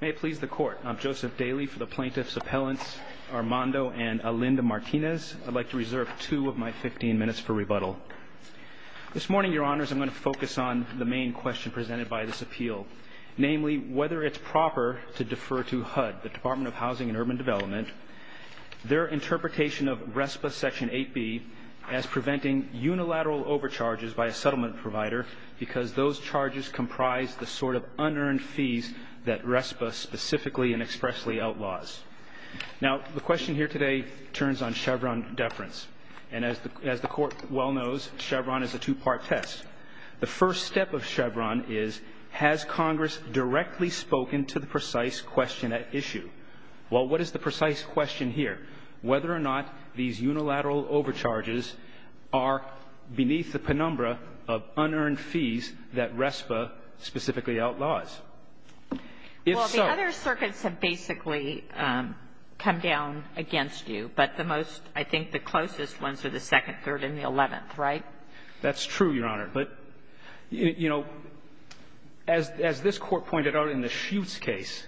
May it please the Court. I'm Joseph Daly for the Plaintiffs' Appellants Armando and Alinda Martinez. I'd like to reserve two of my 15 minutes for rebuttal. This morning, Your Honors, I'm going to focus on the main question presented by this appeal. Namely, whether it's proper to defer to HUD, the Department of Housing and Urban Development, their interpretation of RESPA Section 8b as preventing unilateral overcharges by a settlement provider because those charges comprise the sort of unearned fees that RESPA specifically and expressly outlaws. Now, the question here today turns on Chevron deference. And as the Court well knows, Chevron is a two-part test. The first step of Chevron is, has Congress directly spoken to the precise question at issue? Well, what is the precise question here? Whether or not these unilateral overcharges are beneath the penumbra of unearned fees that RESPA specifically outlaws? If so — Well, the other circuits have basically come down against you. But the most, I think, the closest ones are the second, third, and the eleventh. Right? That's true, Your Honor. But, you know, as this Court pointed out in the Schutz case,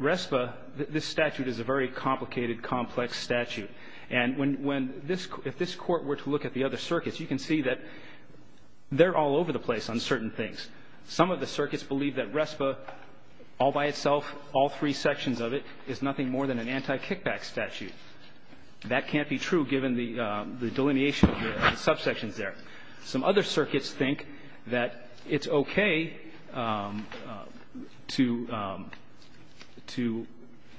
RESPA, this statute is a very complicated, complex statute. And when this — if this Court were to look at the other circuits, you can see that they're all over the place on certain things. Some of the circuits believe that RESPA all by itself, all three sections of it, is nothing more than an anti-kickback statute. That can't be true given the delineation of the subsections there. Some other circuits think that it's okay to — to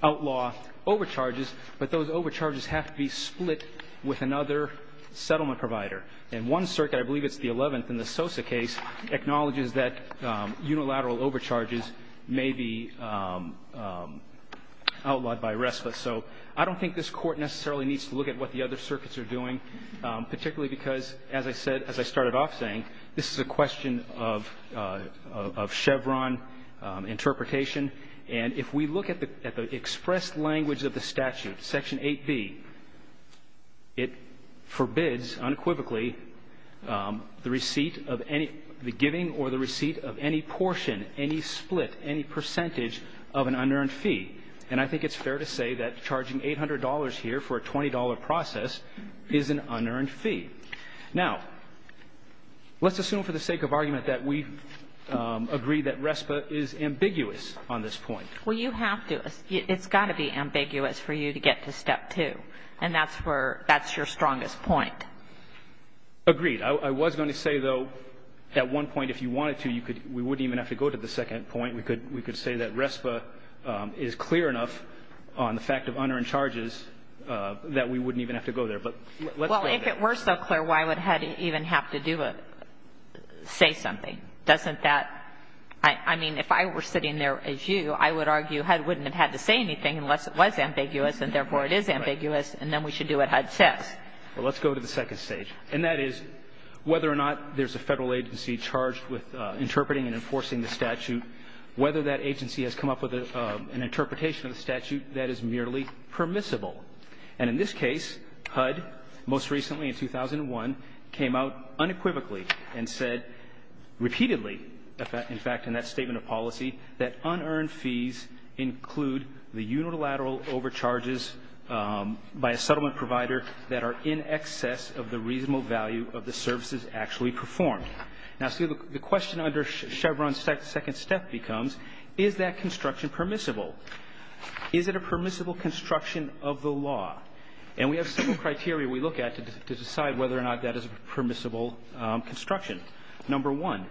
outlaw overcharges, but those overcharges have to be split with another settlement provider. And one circuit, I believe it's the eleventh in the Sosa case, acknowledges that unilateral overcharges may be outlawed by RESPA. So I don't think this Court necessarily needs to look at what the other circuits are doing, particularly because, as I said — as I started off saying, this is a question of — of Chevron interpretation. And if we look at the — at the expressed language of the statute, Section 8b, it forbids, unequivocally, the receipt of any — the giving or the receipt of any portion, any split, any percentage of an unearned fee. And I think it's fair to say that charging $800 here for a $20 process is an unearned fee. Now, let's assume for the sake of argument that we agree that RESPA is ambiguous on this point. Well, you have to. It's got to be ambiguous for you to get to Step 2. And that's where — that's your strongest point. Agreed. I was going to say, though, at one point, if you wanted to, you could — we wouldn't even have to go to the second point. We could — we could say that RESPA is clear enough on the fact of unearned charges that we wouldn't even have to go there. But let's go there. Well, if it were so clear, why would HUD even have to do a — say something? Doesn't that — I mean, if I were sitting there as you, I would argue HUD wouldn't have had to say anything unless it was ambiguous, and therefore it is ambiguous, and then we should do what HUD says. Well, let's go to the second stage. And that is whether or not there's a Federal agency charged with interpreting and enforcing the statute, whether that agency has come up with an interpretation of the statute that is merely permissible. And in this case, HUD, most recently in 2001, came out unequivocally and said repeatedly, in fact, in that statement of policy, that unearned fees include the unilateral overcharges by a settlement provider that are in excess of the reasonable value of the services actually performed. Now, see, the question under Chevron's second step becomes, is that construction permissible? Is it a permissible construction of the law? And we have several criteria we look at to decide whether or not that is a permissible construction. Number one,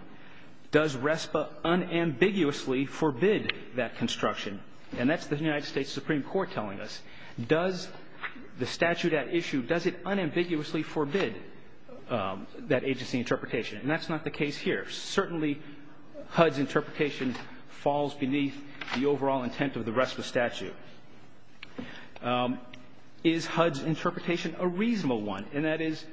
does RESPA unambiguously forbid that construction? And that's the United States Supreme Court telling us. Does the statute at issue, does it unambiguously forbid that agency interpretation? And that's not the case here. Certainly HUD's interpretation falls beneath the overall intent of the RESPA statute. Is HUD's interpretation a reasonable one? And that is,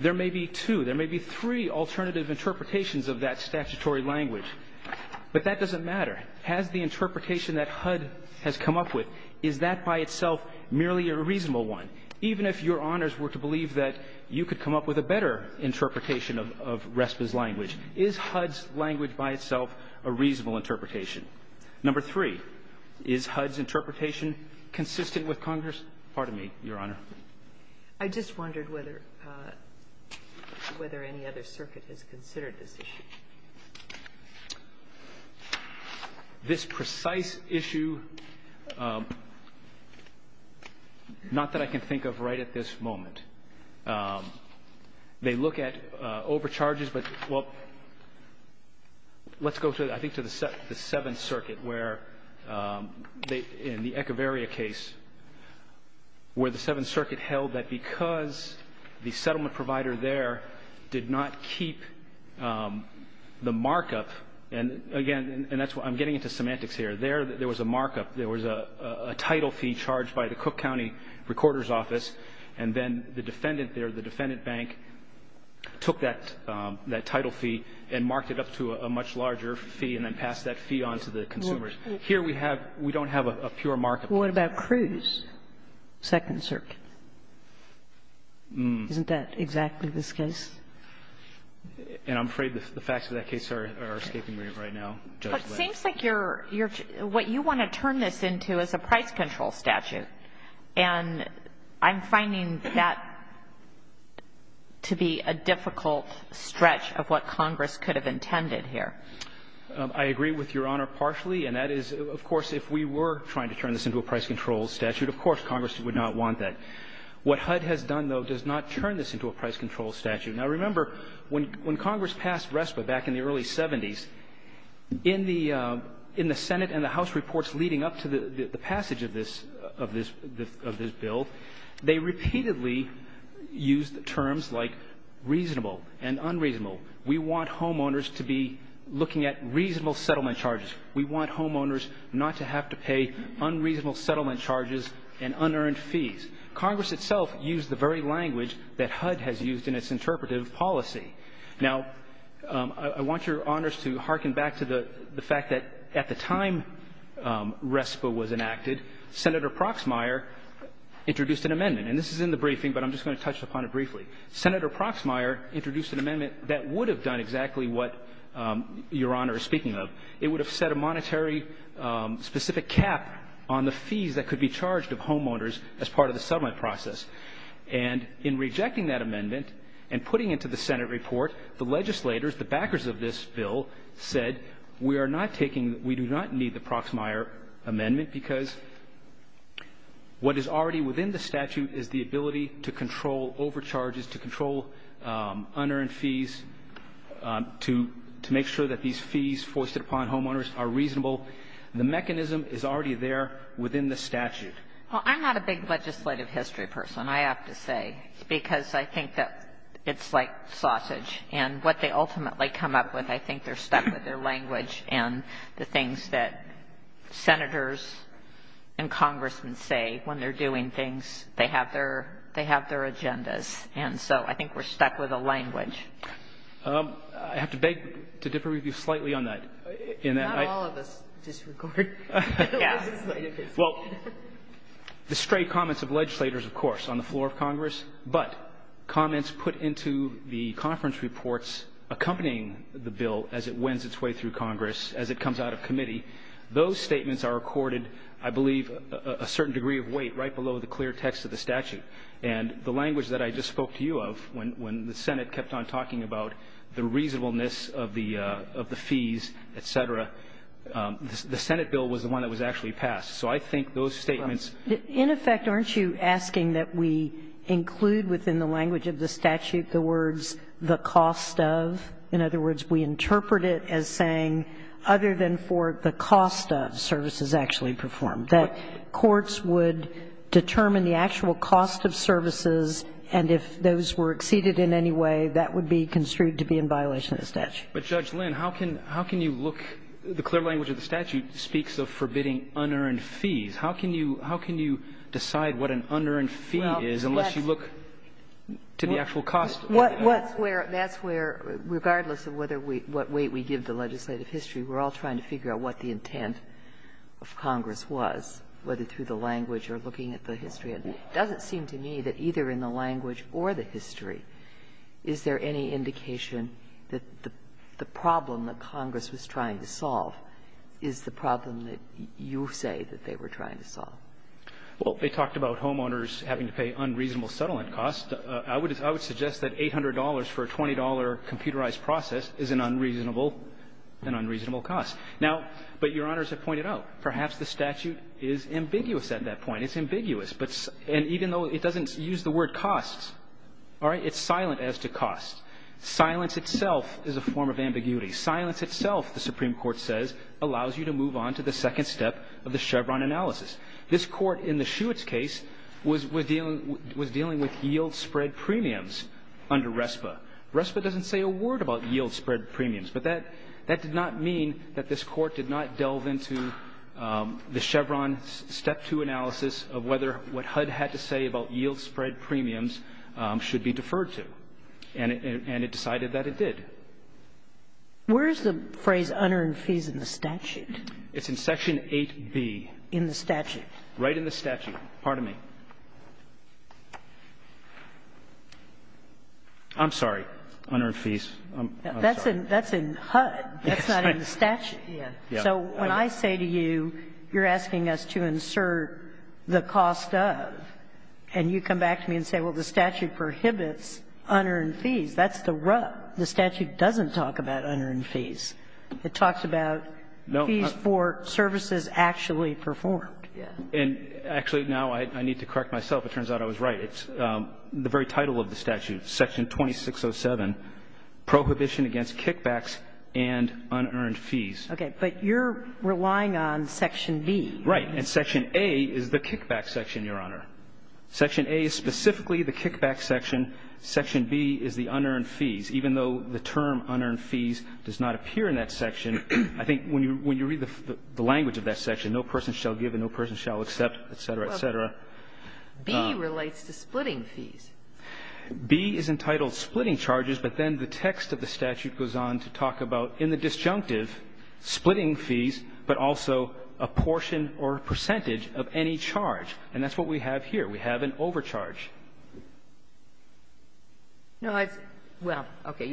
there may be two, there may be three alternative interpretations of that statutory language. But that doesn't matter. Has the interpretation that HUD has come up with, is that by itself merely a reasonable one? Even if Your Honors were to believe that you could come up with a better interpretation of RESPA's language, is HUD's language by itself a reasonable interpretation? Number three, is HUD's interpretation consistent with Congress? Pardon me, Your Honor. I just wondered whether any other circuit has considered this issue. This precise issue, not that I can think of right at this moment. They look at overcharges, but well, let's go to, I think, to the Seventh Circuit where they, in the Echeverria case, where the Seventh Circuit held that because the settlement provider there did not keep the markup. And, again, and that's why I'm getting into semantics here. There was a markup. There was a title fee charged by the Cook County Recorder's Office, and then the defendant there, the defendant bank, took that title fee and marked it up to a much larger fee and then passed that fee on to the consumers. Here we have, we don't have a pure markup. What about Cruz, Second Circuit? Isn't that exactly this case? And I'm afraid the facts of that case are escaping me right now. But it seems like you're, what you want to turn this into is a price control statute, and I'm finding that to be a difficult stretch of what Congress could have intended here. I agree with Your Honor partially, and that is, of course, if we were trying to turn this into a price control statute, of course, Congress would not want that. What HUD has done, though, does not turn this into a price control statute. Now, remember, when Congress passed RESPA back in the early 70s, in the Senate and the House reports leading up to the passage of this bill, they repeatedly used terms like reasonable and unreasonable. We want homeowners to be looking at reasonable settlement charges. We want homeowners not to have to pay unreasonable settlement charges and unearned fees. Congress itself used the very language that HUD has used in its interpretive policy. Now, I want Your Honors to hearken back to the fact that at the time RESPA was enacted, Senator Proxmire introduced an amendment. And this is in the briefing, but I'm just going to touch upon it briefly. Senator Proxmire introduced an amendment that would have done exactly what Your Honor is speaking of. It would have set a monetary specific cap on the fees that could be charged of homeowners as part of the settlement process. And in rejecting that amendment and putting it to the Senate report, the legislators, the backers of this bill, said we are not taking, we do not need the Proxmire amendment because what is already within the statute is the ability to control overcharges, to control unearned fees, to make sure that these fees foisted upon homeowners are reasonable. The mechanism is already there within the statute. Well, I'm not a big legislative history person, I have to say, because I think that it's like sausage. And what they ultimately come up with, I think they're stuck with their language and the things that Senators and Congressmen say when they're doing things. They have their agendas. And so I think we're stuck with a language. I have to beg to differ with you slightly on that. Not all of us disagree. Well, the straight comments of legislators, of course, on the floor of Congress, but comments put into the conference reports accompanying the bill as it winds its way through Congress, as it comes out of committee, those statements are recorded, I believe, a certain degree of weight right below the clear text of the statute. And the language that I just spoke to you of, when the Senate kept on talking about the reasonableness of the fees, et cetera, the Senate bill was the one that was actually passed. So I think those statements ---- In effect, aren't you asking that we include within the language of the statute the words, the cost of? In other words, we interpret it as saying other than for the cost of services actually performed. That courts would determine the actual cost of services, and if those were exceeded in any way, that would be construed to be in violation of the statute. But, Judge Lynn, how can you look ---- the clear language of the statute speaks of forbidding unearned fees. How can you decide what an unearned fee is unless you look to the actual cost? That's where, regardless of what weight we give the legislative history, we're all trying to figure out what the intent of Congress was, whether through the language or looking at the history. And it doesn't seem to me that either in the language or the history, is there any indication that the problem that Congress was trying to solve is the problem that you say that they were trying to solve? Well, they talked about homeowners having to pay unreasonable settlement costs. I would suggest that $800 for a $20 computerized process is an unreasonable cost. Now, but Your Honors have pointed out, perhaps the statute is ambiguous at that point. It's ambiguous, but ---- and even though it doesn't use the word costs, all right, it's silent as to cost. Silence itself is a form of ambiguity. Silence itself, the Supreme Court says, allows you to move on to the second step of the Chevron analysis. This Court in the Schuetz case was dealing with yield spread premiums under RESPA. RESPA doesn't say a word about yield spread premiums. But that did not mean that this Court did not delve into the Chevron step two analysis of whether what HUD had to say about yield spread premiums should be deferred to. And it decided that it did. Where is the phrase, unearned fees, in the statute? It's in Section 8B. In the statute. Pardon me. I'm sorry. Unearned fees. That's in HUD. That's not in the statute. So when I say to you, you're asking us to insert the cost of, and you come back to me and say, well, the statute prohibits unearned fees, that's the rub. The statute doesn't talk about unearned fees. It talks about fees for services actually performed. And actually, now I need to correct myself. It turns out I was right. It's the very title of the statute, Section 2607, Prohibition Against Kickbacks and Unearned Fees. Okay. But you're relying on Section B. Right. And Section A is the kickback section, Your Honor. Section A is specifically the kickback section. Section B is the unearned fees. Even though the term unearned fees does not appear in that section, I think when you read the language of that section, no person shall give and no person shall accept, et cetera, et cetera. B relates to splitting fees. B is entitled splitting charges, but then the text of the statute goes on to talk about, in the disjunctive, splitting fees, but also a portion or percentage of any charge. And that's what we have here. We have an overcharge. No, I've – well, okay.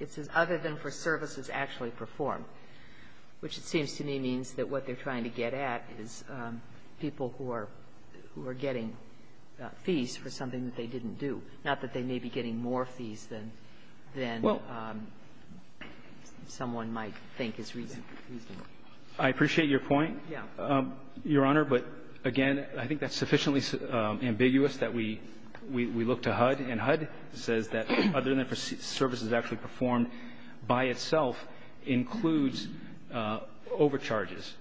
It says other than for services actually performed, which it seems to me means that what they're trying to get at is people who are getting fees for something that they didn't do, not that they may be getting more fees than someone might think is reasonable. I appreciate your point, Your Honor. But, again, I think that's sufficiently ambiguous that we look to HUD. And HUD says that other than for services actually performed by itself includes overcharges.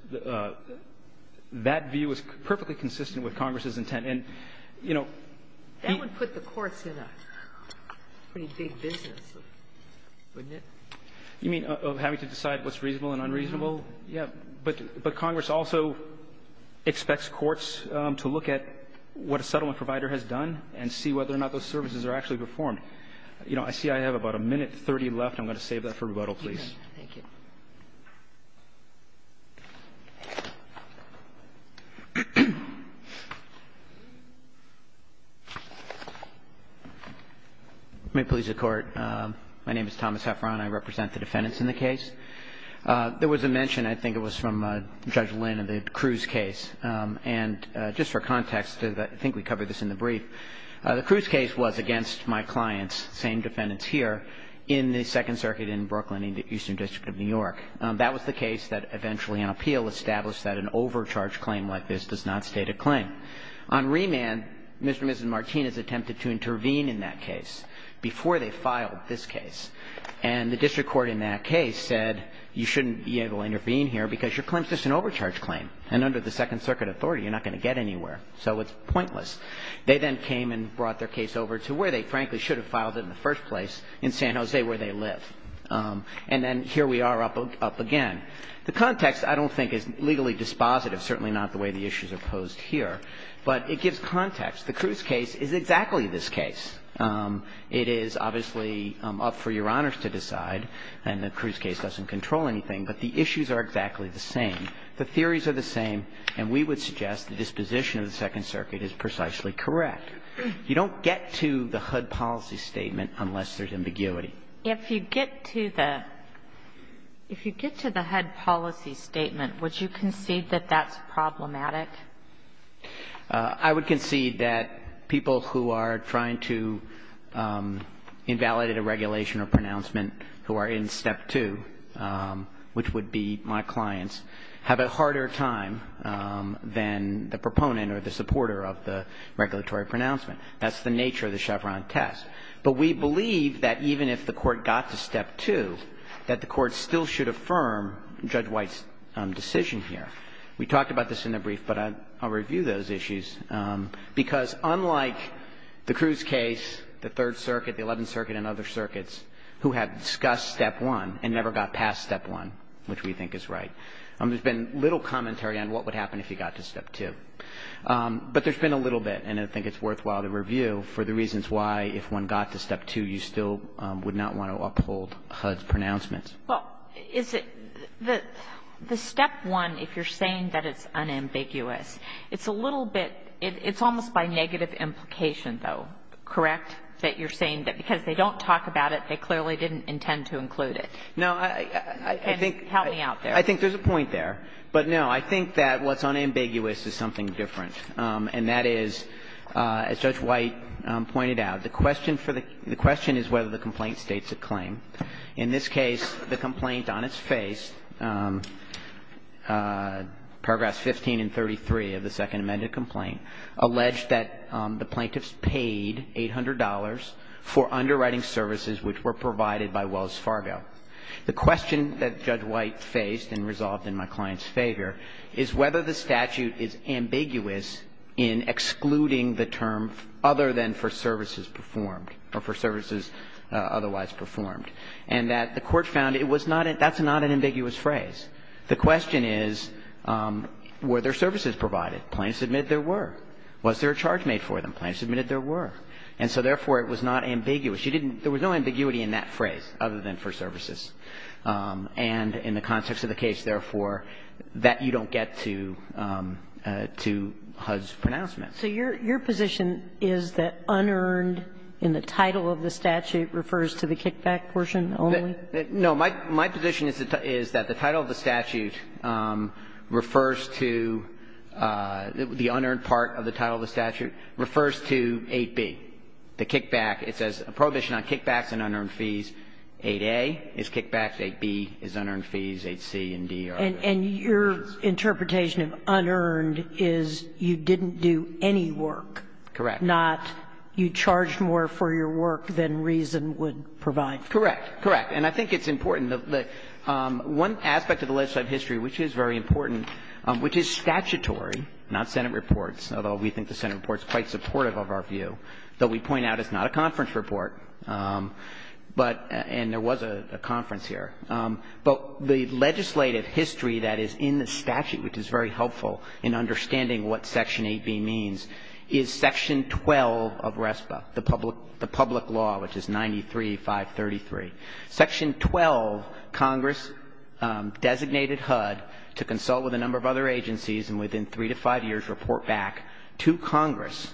That view is perfectly consistent with Congress's intent. And, you know, the – That would put the courts in a pretty big business, wouldn't it? You mean of having to decide what's reasonable and unreasonable? Yeah. But Congress also expects courts to look at what a settlement provider has done and see whether or not those services are actually performed. You know, I see I have about a minute 30 left. I'm going to save that for rebuttal, please. Thank you. May it please the Court. My name is Thomas Hefferon. I represent the defendants in the case. There was a mention, I think it was from Judge Lynn, of the Cruz case. And just for context, I think we covered this in the brief. The Cruz case was against my clients, the same defendants here, in the Second Circuit in Brooklyn. In the Eastern District of New York. That was the case that eventually on appeal established that an overcharge claim like this does not state a claim. On remand, Mr. and Mrs. Martinez attempted to intervene in that case before they filed this case. And the district court in that case said, you shouldn't be able to intervene here because your claim is just an overcharge claim. And under the Second Circuit authority, you're not going to get anywhere. So it's pointless. They then came and brought their case over to where they frankly should have filed it in the first place, in San Jose, where they live. And then here we are up again. The context, I don't think, is legally dispositive. Certainly not the way the issues are posed here. But it gives context. The Cruz case is exactly this case. It is obviously up for Your Honors to decide. And the Cruz case doesn't control anything. But the issues are exactly the same. The theories are the same. And we would suggest the disposition of the Second Circuit is precisely correct. You don't get to the HUD policy statement unless there's ambiguity. If you get to the HUD policy statement, would you concede that that's problematic? I would concede that people who are trying to invalidate a regulation or pronouncement who are in Step 2, which would be my clients, have a harder time than the proponent or the supporter of the regulatory pronouncement. That's the nature of the Chevron test. But we believe that even if the Court got to Step 2, that the Court still should affirm Judge White's decision here. We talked about this in the brief, but I'll review those issues. Because unlike the Cruz case, the Third Circuit, the Eleventh Circuit, and other circuits who had discussed Step 1 and never got past Step 1, which we think is right, there's been little commentary on what would happen if you got to Step 2. But there's been a little bit, and I think it's worthwhile to review, for the reasons why, if one got to Step 2, you still would not want to uphold HUD's pronouncements. Well, is it the Step 1, if you're saying that it's unambiguous, it's a little bit, it's almost by negative implication, though, correct, that you're saying that because they don't talk about it, they clearly didn't intend to include it? Help me out there. I think there's a point there. But, no, I think that what's unambiguous is something different, and that is, as Judge White pointed out, the question for the question is whether the complaint states a claim. In this case, the complaint on its face, paragraphs 15 and 33 of the Second Amended Complaint, alleged that the plaintiffs paid $800 for underwriting services which were provided by Wells Fargo. The question that Judge White faced and resolved in my client's favor is whether the statute is ambiguous in excluding the term other than for services performed or for services otherwise performed. And that the Court found it was not an – that's not an ambiguous phrase. The question is, were there services provided? Plaintiffs admitted there were. Was there a charge made for them? Plaintiffs admitted there were. And so, therefore, it was not ambiguous. You didn't – there was no ambiguity in that phrase, other than for services. And in the context of the case, therefore, that you don't get to – to HUD's pronouncement. So your position is that unearned in the title of the statute refers to the kickback portion only? No. My position is that the title of the statute refers to – the unearned part of the title of the statute refers to 8b, the kickback. It says a prohibition on kickbacks and unearned fees. 8a is kickback. 8b is unearned fees. 8c and d are. And your interpretation of unearned is you didn't do any work. Correct. Not you charged more for your work than reason would provide. Correct. Correct. And I think it's important that one aspect of the legislative history, which is very important, which is statutory, not Senate reports, although we think the Senate reports are quite supportive of our view, though we point out it's not a conference report, but – and there was a conference here. But the legislative history that is in the statute, which is very helpful in understanding what Section 8b means, is Section 12 of RESPA, the public law, which is 93-533. Section 12, Congress designated HUD to consult with a number of other agencies and within three to five years report back to Congress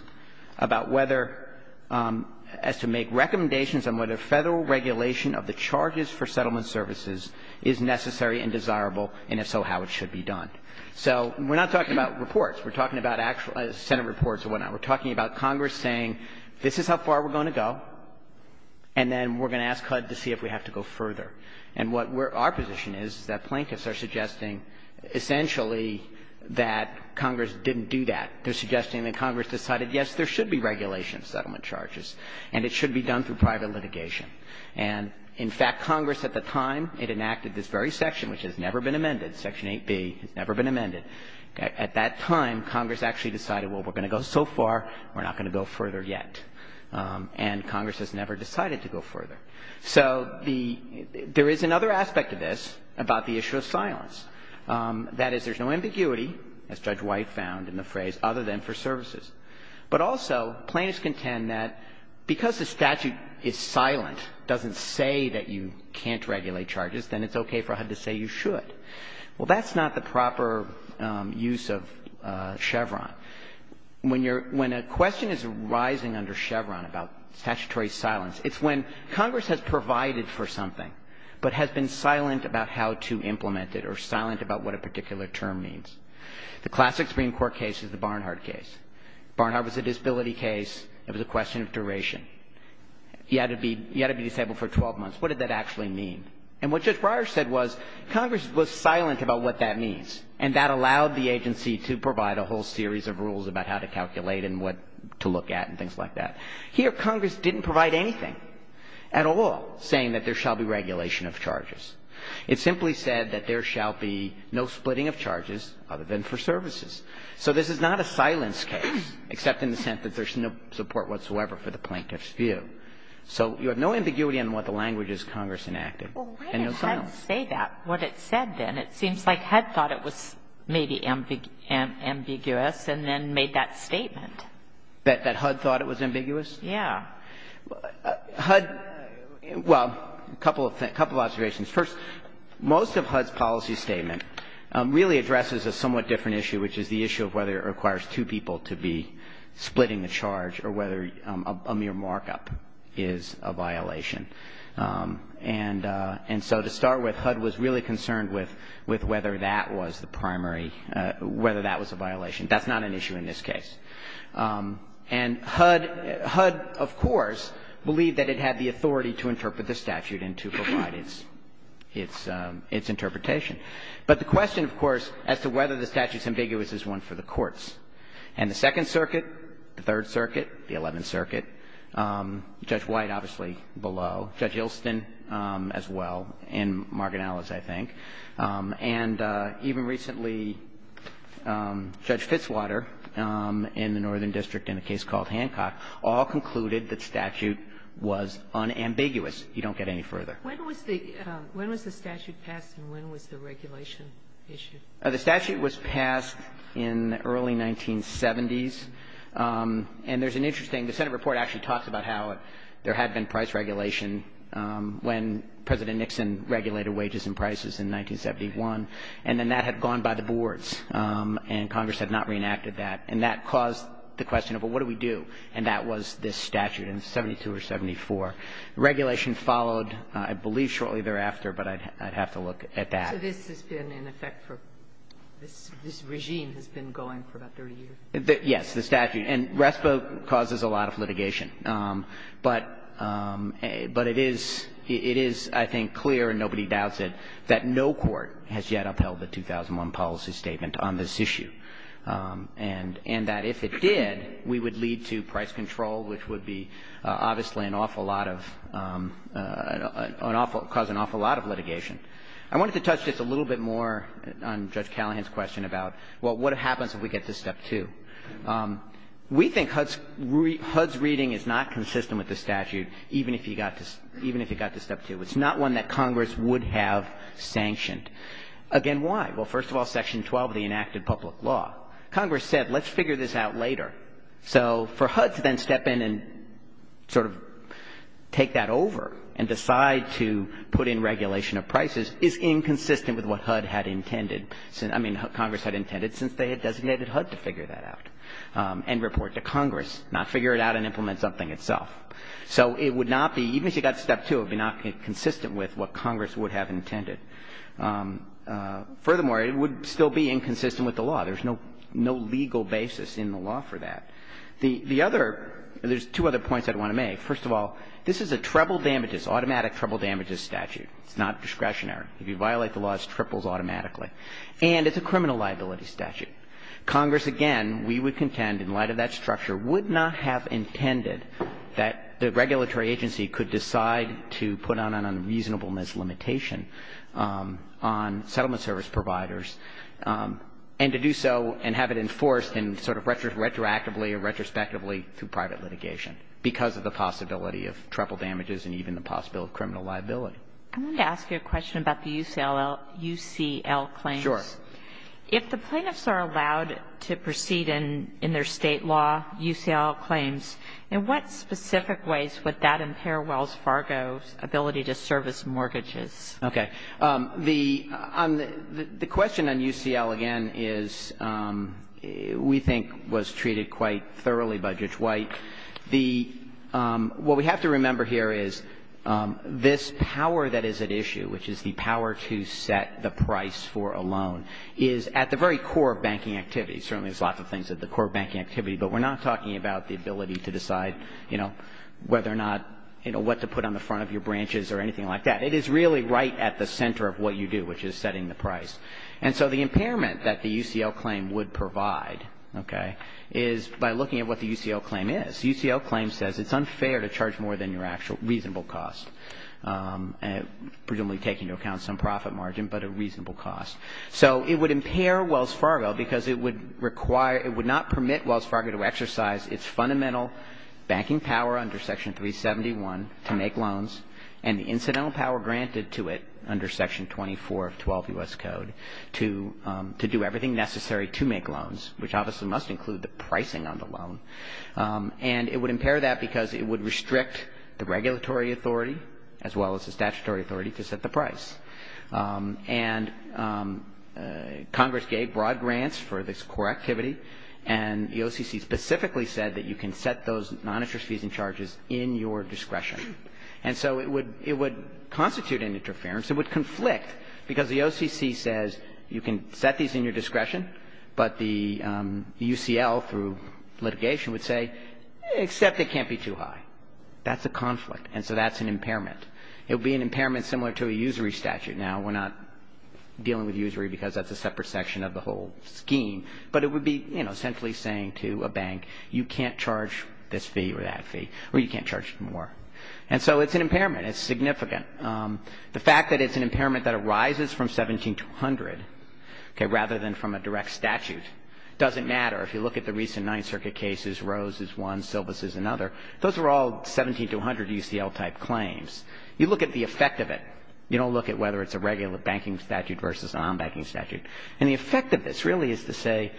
about whether – as to make recommendations on whether Federal regulation of the charges for settlement services is necessary and desirable, and if so, how it should be done. So we're not talking about reports. We're talking about actual Senate reports and whatnot. We're talking about Congress saying this is how far we're going to go, and then we're going to ask HUD to see if we have to go further. And what our position is is that plaintiffs are suggesting essentially that Congress didn't do that. They're suggesting that Congress decided, yes, there should be regulation of settlement charges, and it should be done through private litigation. And, in fact, Congress at the time, it enacted this very section, which has never been amended, Section 8b. It's never been amended. At that time, Congress actually decided, well, we're going to go so far, we're not going to go further yet. And Congress has never decided to go further. So the — there is another aspect of this about the issue of silence. That is, there's no ambiguity, as Judge White found in the phrase, other than for services. But also, plaintiffs contend that because the statute is silent, doesn't say that you can't regulate charges, then it's okay for HUD to say you should. Well, that's not the proper use of Chevron. When you're — when a question is arising under Chevron about statutory silence, it's when Congress has provided for something, but has been silent about how to implement it, or silent about what a particular term means. The classic Supreme Court case is the Barnhart case. Barnhart was a disability case. It was a question of duration. He had to be — he had to be disabled for 12 months. What did that actually mean? And what Judge Breyer said was Congress was silent about what that means, and that allowed the agency to provide a whole series of rules about how to calculate and what to look at and things like that. Here, Congress didn't provide anything at all saying that there shall be regulation of charges. It simply said that there shall be no splitting of charges other than for services. So this is not a silence case, except in the sense that there's no support whatsoever for the plaintiff's view. So you have no ambiguity on what the language is Congress enacted. And no silence. Well, why did HUD say that? What it said then? It seems like HUD thought it was maybe ambiguous and then made that statement. That HUD thought it was ambiguous? Yeah. HUD — well, a couple of observations. First, most of HUD's policy statement really addresses a somewhat different issue, which is the issue of whether it requires two people to be splitting the charge or whether a mere markup is a violation. And so to start with, HUD was really concerned with whether that was the primary — whether that was a violation. That's not an issue in this case. And HUD — HUD, of course, believed that it had the authority to interpret the statute and to provide its — its interpretation. But the question, of course, as to whether the statute's ambiguous is one for the courts. And the Second Circuit, the Third Circuit, the Eleventh Circuit, Judge White obviously below, Judge Ilston as well, and Margaret Ellis, I think. And even recently, Judge Fitzwater in the Northern District in a case called Hancock all concluded that statute was unambiguous. You don't get any further. When was the — when was the statute passed and when was the regulation issued? The statute was passed in the early 1970s. And there's an interesting — the Senate report actually talks about how there had been price regulation when President Nixon regulated wages and prices in 1971. And then that had gone by the boards. And Congress had not reenacted that. And that caused the question of, well, what do we do? And that was this statute in 72 or 74. Regulation followed, I believe, shortly thereafter, but I'd have to look at that. So this has been in effect for — this regime has been going for about 30 years? Yes, the statute. And RESPA causes a lot of litigation. But it is — it is, I think, clear, and nobody doubts it, that no court has yet upheld the 2001 policy statement on this issue. And that if it did, we would lead to price control, which would be — obviously an awful lot of — cause an awful lot of litigation. I wanted to touch just a little bit more on Judge Callahan's question about, well, what happens if we get to step two? We think HUD's — HUD's reading is not consistent with the statute, even if you got to — even if you got to step two. It's not one that Congress would have sanctioned. Again, why? Well, first of all, Section 12 of the enacted public law. Congress said, let's figure this out later. So for HUD to then step in and sort of take that over and decide to put in regulation of prices is inconsistent with what HUD had intended — I mean, Congress had intended since they had designated HUD to figure that out and report to Congress, not figure it out and implement something itself. So it would not be — even if you got to step two, it would be not consistent with what Congress would have intended. Furthermore, it would still be inconsistent with the law. There's no legal basis in the law for that. The other — there's two other points I'd want to make. First of all, this is a treble damages — automatic treble damages statute. It's not discretionary. If you violate the laws, it triples automatically. And it's a criminal liability statute. Congress, again, we would contend, in light of that structure, would not have intended that the regulatory agency could decide to put on an unreasonableness limitation on settlement service providers and to do so and have it enforced in sort of retroactively or retrospectively through private litigation because of the possibility of treble damages and even the possibility of criminal liability. I wanted to ask you a question about the UCL claims. Sure. If the plaintiffs are allowed to proceed in their State law UCL claims, in what specific ways would that impair Wells Fargo's ability to service mortgages? Okay. The question on UCL, again, is — we think was treated quite thoroughly by Judge White. The — what we have to remember here is this power that is at issue, which is the power to set the price for a loan, is at the very core of banking activity. Certainly, there's lots of things at the core of banking activity, but we're not talking about the ability to decide, you know, whether or not — you know, what to put on the front of your branches or anything like that. It is really right at the center of what you do, which is setting the price. And so the impairment that the UCL claim would provide, okay, is by looking at what the UCL claim is. UCL claim says it's unfair to charge more than your actual reasonable cost, presumably taking into account some profit margin, but a reasonable cost. So it would impair Wells Fargo because it would require — it would not permit Wells Fargo to exercise its fundamental banking power under Section 371 to make loans and the incidental power granted to it under Section 24 of 12 U.S. Code to do everything necessary to make loans, which obviously must include the pricing on the loan. And it would impair that because it would restrict the regulatory authority as well as the statutory authority to set the price. And Congress gave broad grants for this core activity, and the OCC specifically said that you can set those noninterference fees and charges in your discretion. And so it would constitute an interference. It would conflict because the OCC says you can set these in your discretion, but the UCL through litigation would say, except it can't be too high. That's a conflict, and so that's an impairment. It would be an impairment similar to a usury statute. Now, we're not dealing with usury because that's a separate section of the whole scheme, but it would be, you know, essentially saying to a bank, you can't charge this fee or that fee or you can't charge more. And so it's an impairment. It's significant. The fact that it's an impairment that arises from 17200, okay, rather than from a direct statute, doesn't matter. If you look at the recent Ninth Circuit cases, Rose is one, Silvas is another. Those are all 17200 UCL-type claims. You look at the effect of it. You don't look at whether it's a regular banking statute versus a nonbanking statute. And the effect of this really is to say,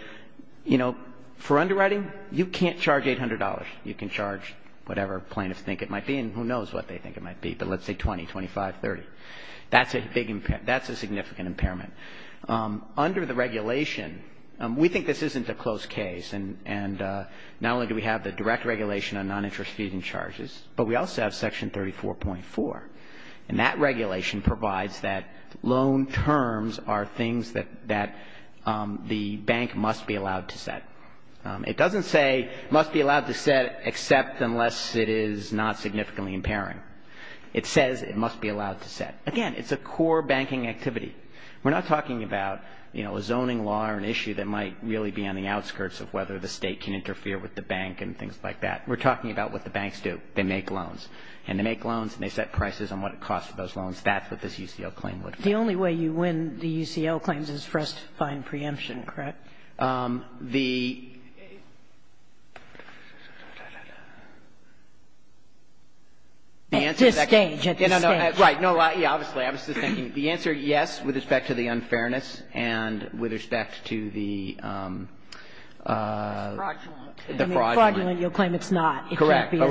you know, for underwriting, you can't charge $800. You can charge whatever plaintiffs think it might be, and who knows what they think it might be, but let's say 20, 25, 30. That's a big impairment. That's a significant impairment. Under the regulation, we think this isn't a close case, and not only do we have the direct regulation on noninterest fees and charges, but we also have Section 34.4, and that regulation provides that loan terms are things that the bank must be allowed to set. It doesn't say must be allowed to set except unless it is not significantly impairing. It says it must be allowed to set. Again, it's a core banking activity. We're not talking about, you know, a zoning law or an issue that might really be on the outskirts of whether the State can interfere with the bank and things like that. We're talking about what the banks do. They make loans. And they make loans and they set prices on what it costs for those loans. That's what this UCL claim would be. The only way you win the UCL claims is for us to find preemption, correct? The answer is actually at this stage. Right. No, obviously. I was just thinking. The answer, yes, with respect to the unfairness and with respect to the fraudulent. You'll claim it's not. Correct. With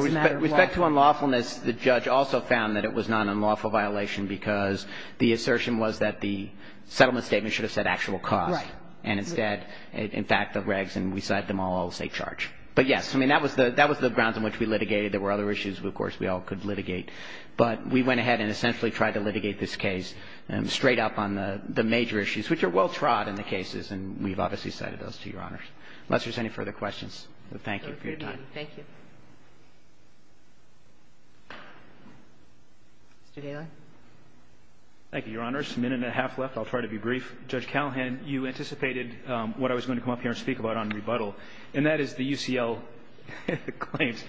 respect to unlawfulness, the judge also found that it was not an unlawful violation because the assertion was that the settlement statement should have said the actual cost. Right. And instead, in fact, the regs and we cite them all as a charge. But, yes, I mean, that was the grounds on which we litigated. There were other issues, of course, we all could litigate. But we went ahead and essentially tried to litigate this case straight up on the major issues, which are well-trod in the cases, and we've obviously cited those to Your Honors. Unless there's any further questions, thank you for your time. Thank you. Mr. Daly. Thank you, Your Honors. A minute and a half left. I'll try to be brief. Judge Callahan, you anticipated what I was going to come up here and speak about on rebuttal, and that is the UCL claims.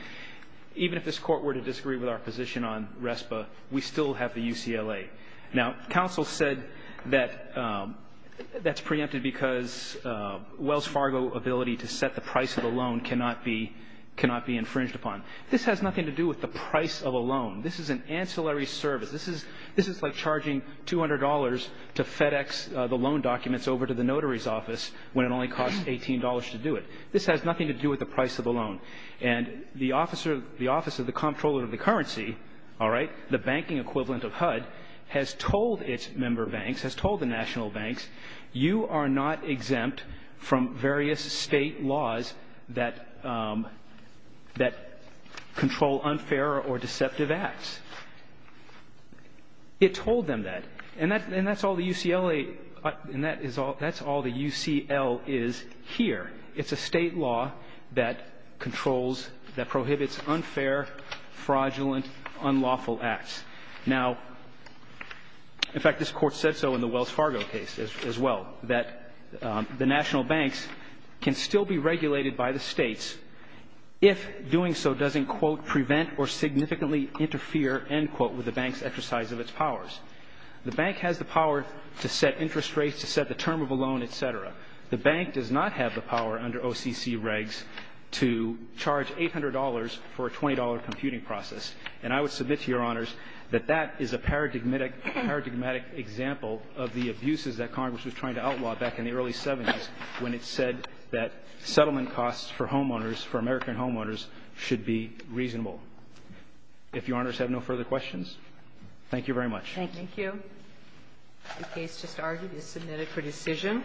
Even if this Court were to disagree with our position on RESPA, we still have the UCLA. Now, counsel said that that's preempted because Wells Fargo ability to set the price of a loan cannot be infringed upon. This has nothing to do with the price of a loan. This is an ancillary service. This is like charging $200 to FedEx the loan documents over to the notary's office when it only costs $18 to do it. This has nothing to do with the price of a loan. And the Office of the Comptroller of the Currency, all right, the banking equivalent of HUD, has told its member banks, has told the national banks, you are not exempt from various state laws that control unfair or deceptive acts. It told them that. And that's all the UCLA – and that's all the UCL is here. It's a state law that controls – that prohibits unfair, fraudulent, unlawful acts. Now, in fact, this Court said so in the Wells Fargo case as well, that the national banks can still be regulated by the states if doing so doesn't, quote, prevent or significantly interfere, end quote, with the bank's exercise of its powers. The bank has the power to set interest rates, to set the term of a loan, et cetera. The bank does not have the power under OCC regs to charge $800 for a $20 computing process. And I would submit to Your Honors that that is a paradigmatic example of the abuses that Congress was trying to outlaw back in the early 70s when it said that settlement costs for homeowners, for American homeowners, should be reasonable. If Your Honors have no further questions, thank you very much. Thank you. Thank you. The case just argued is submitted for decision.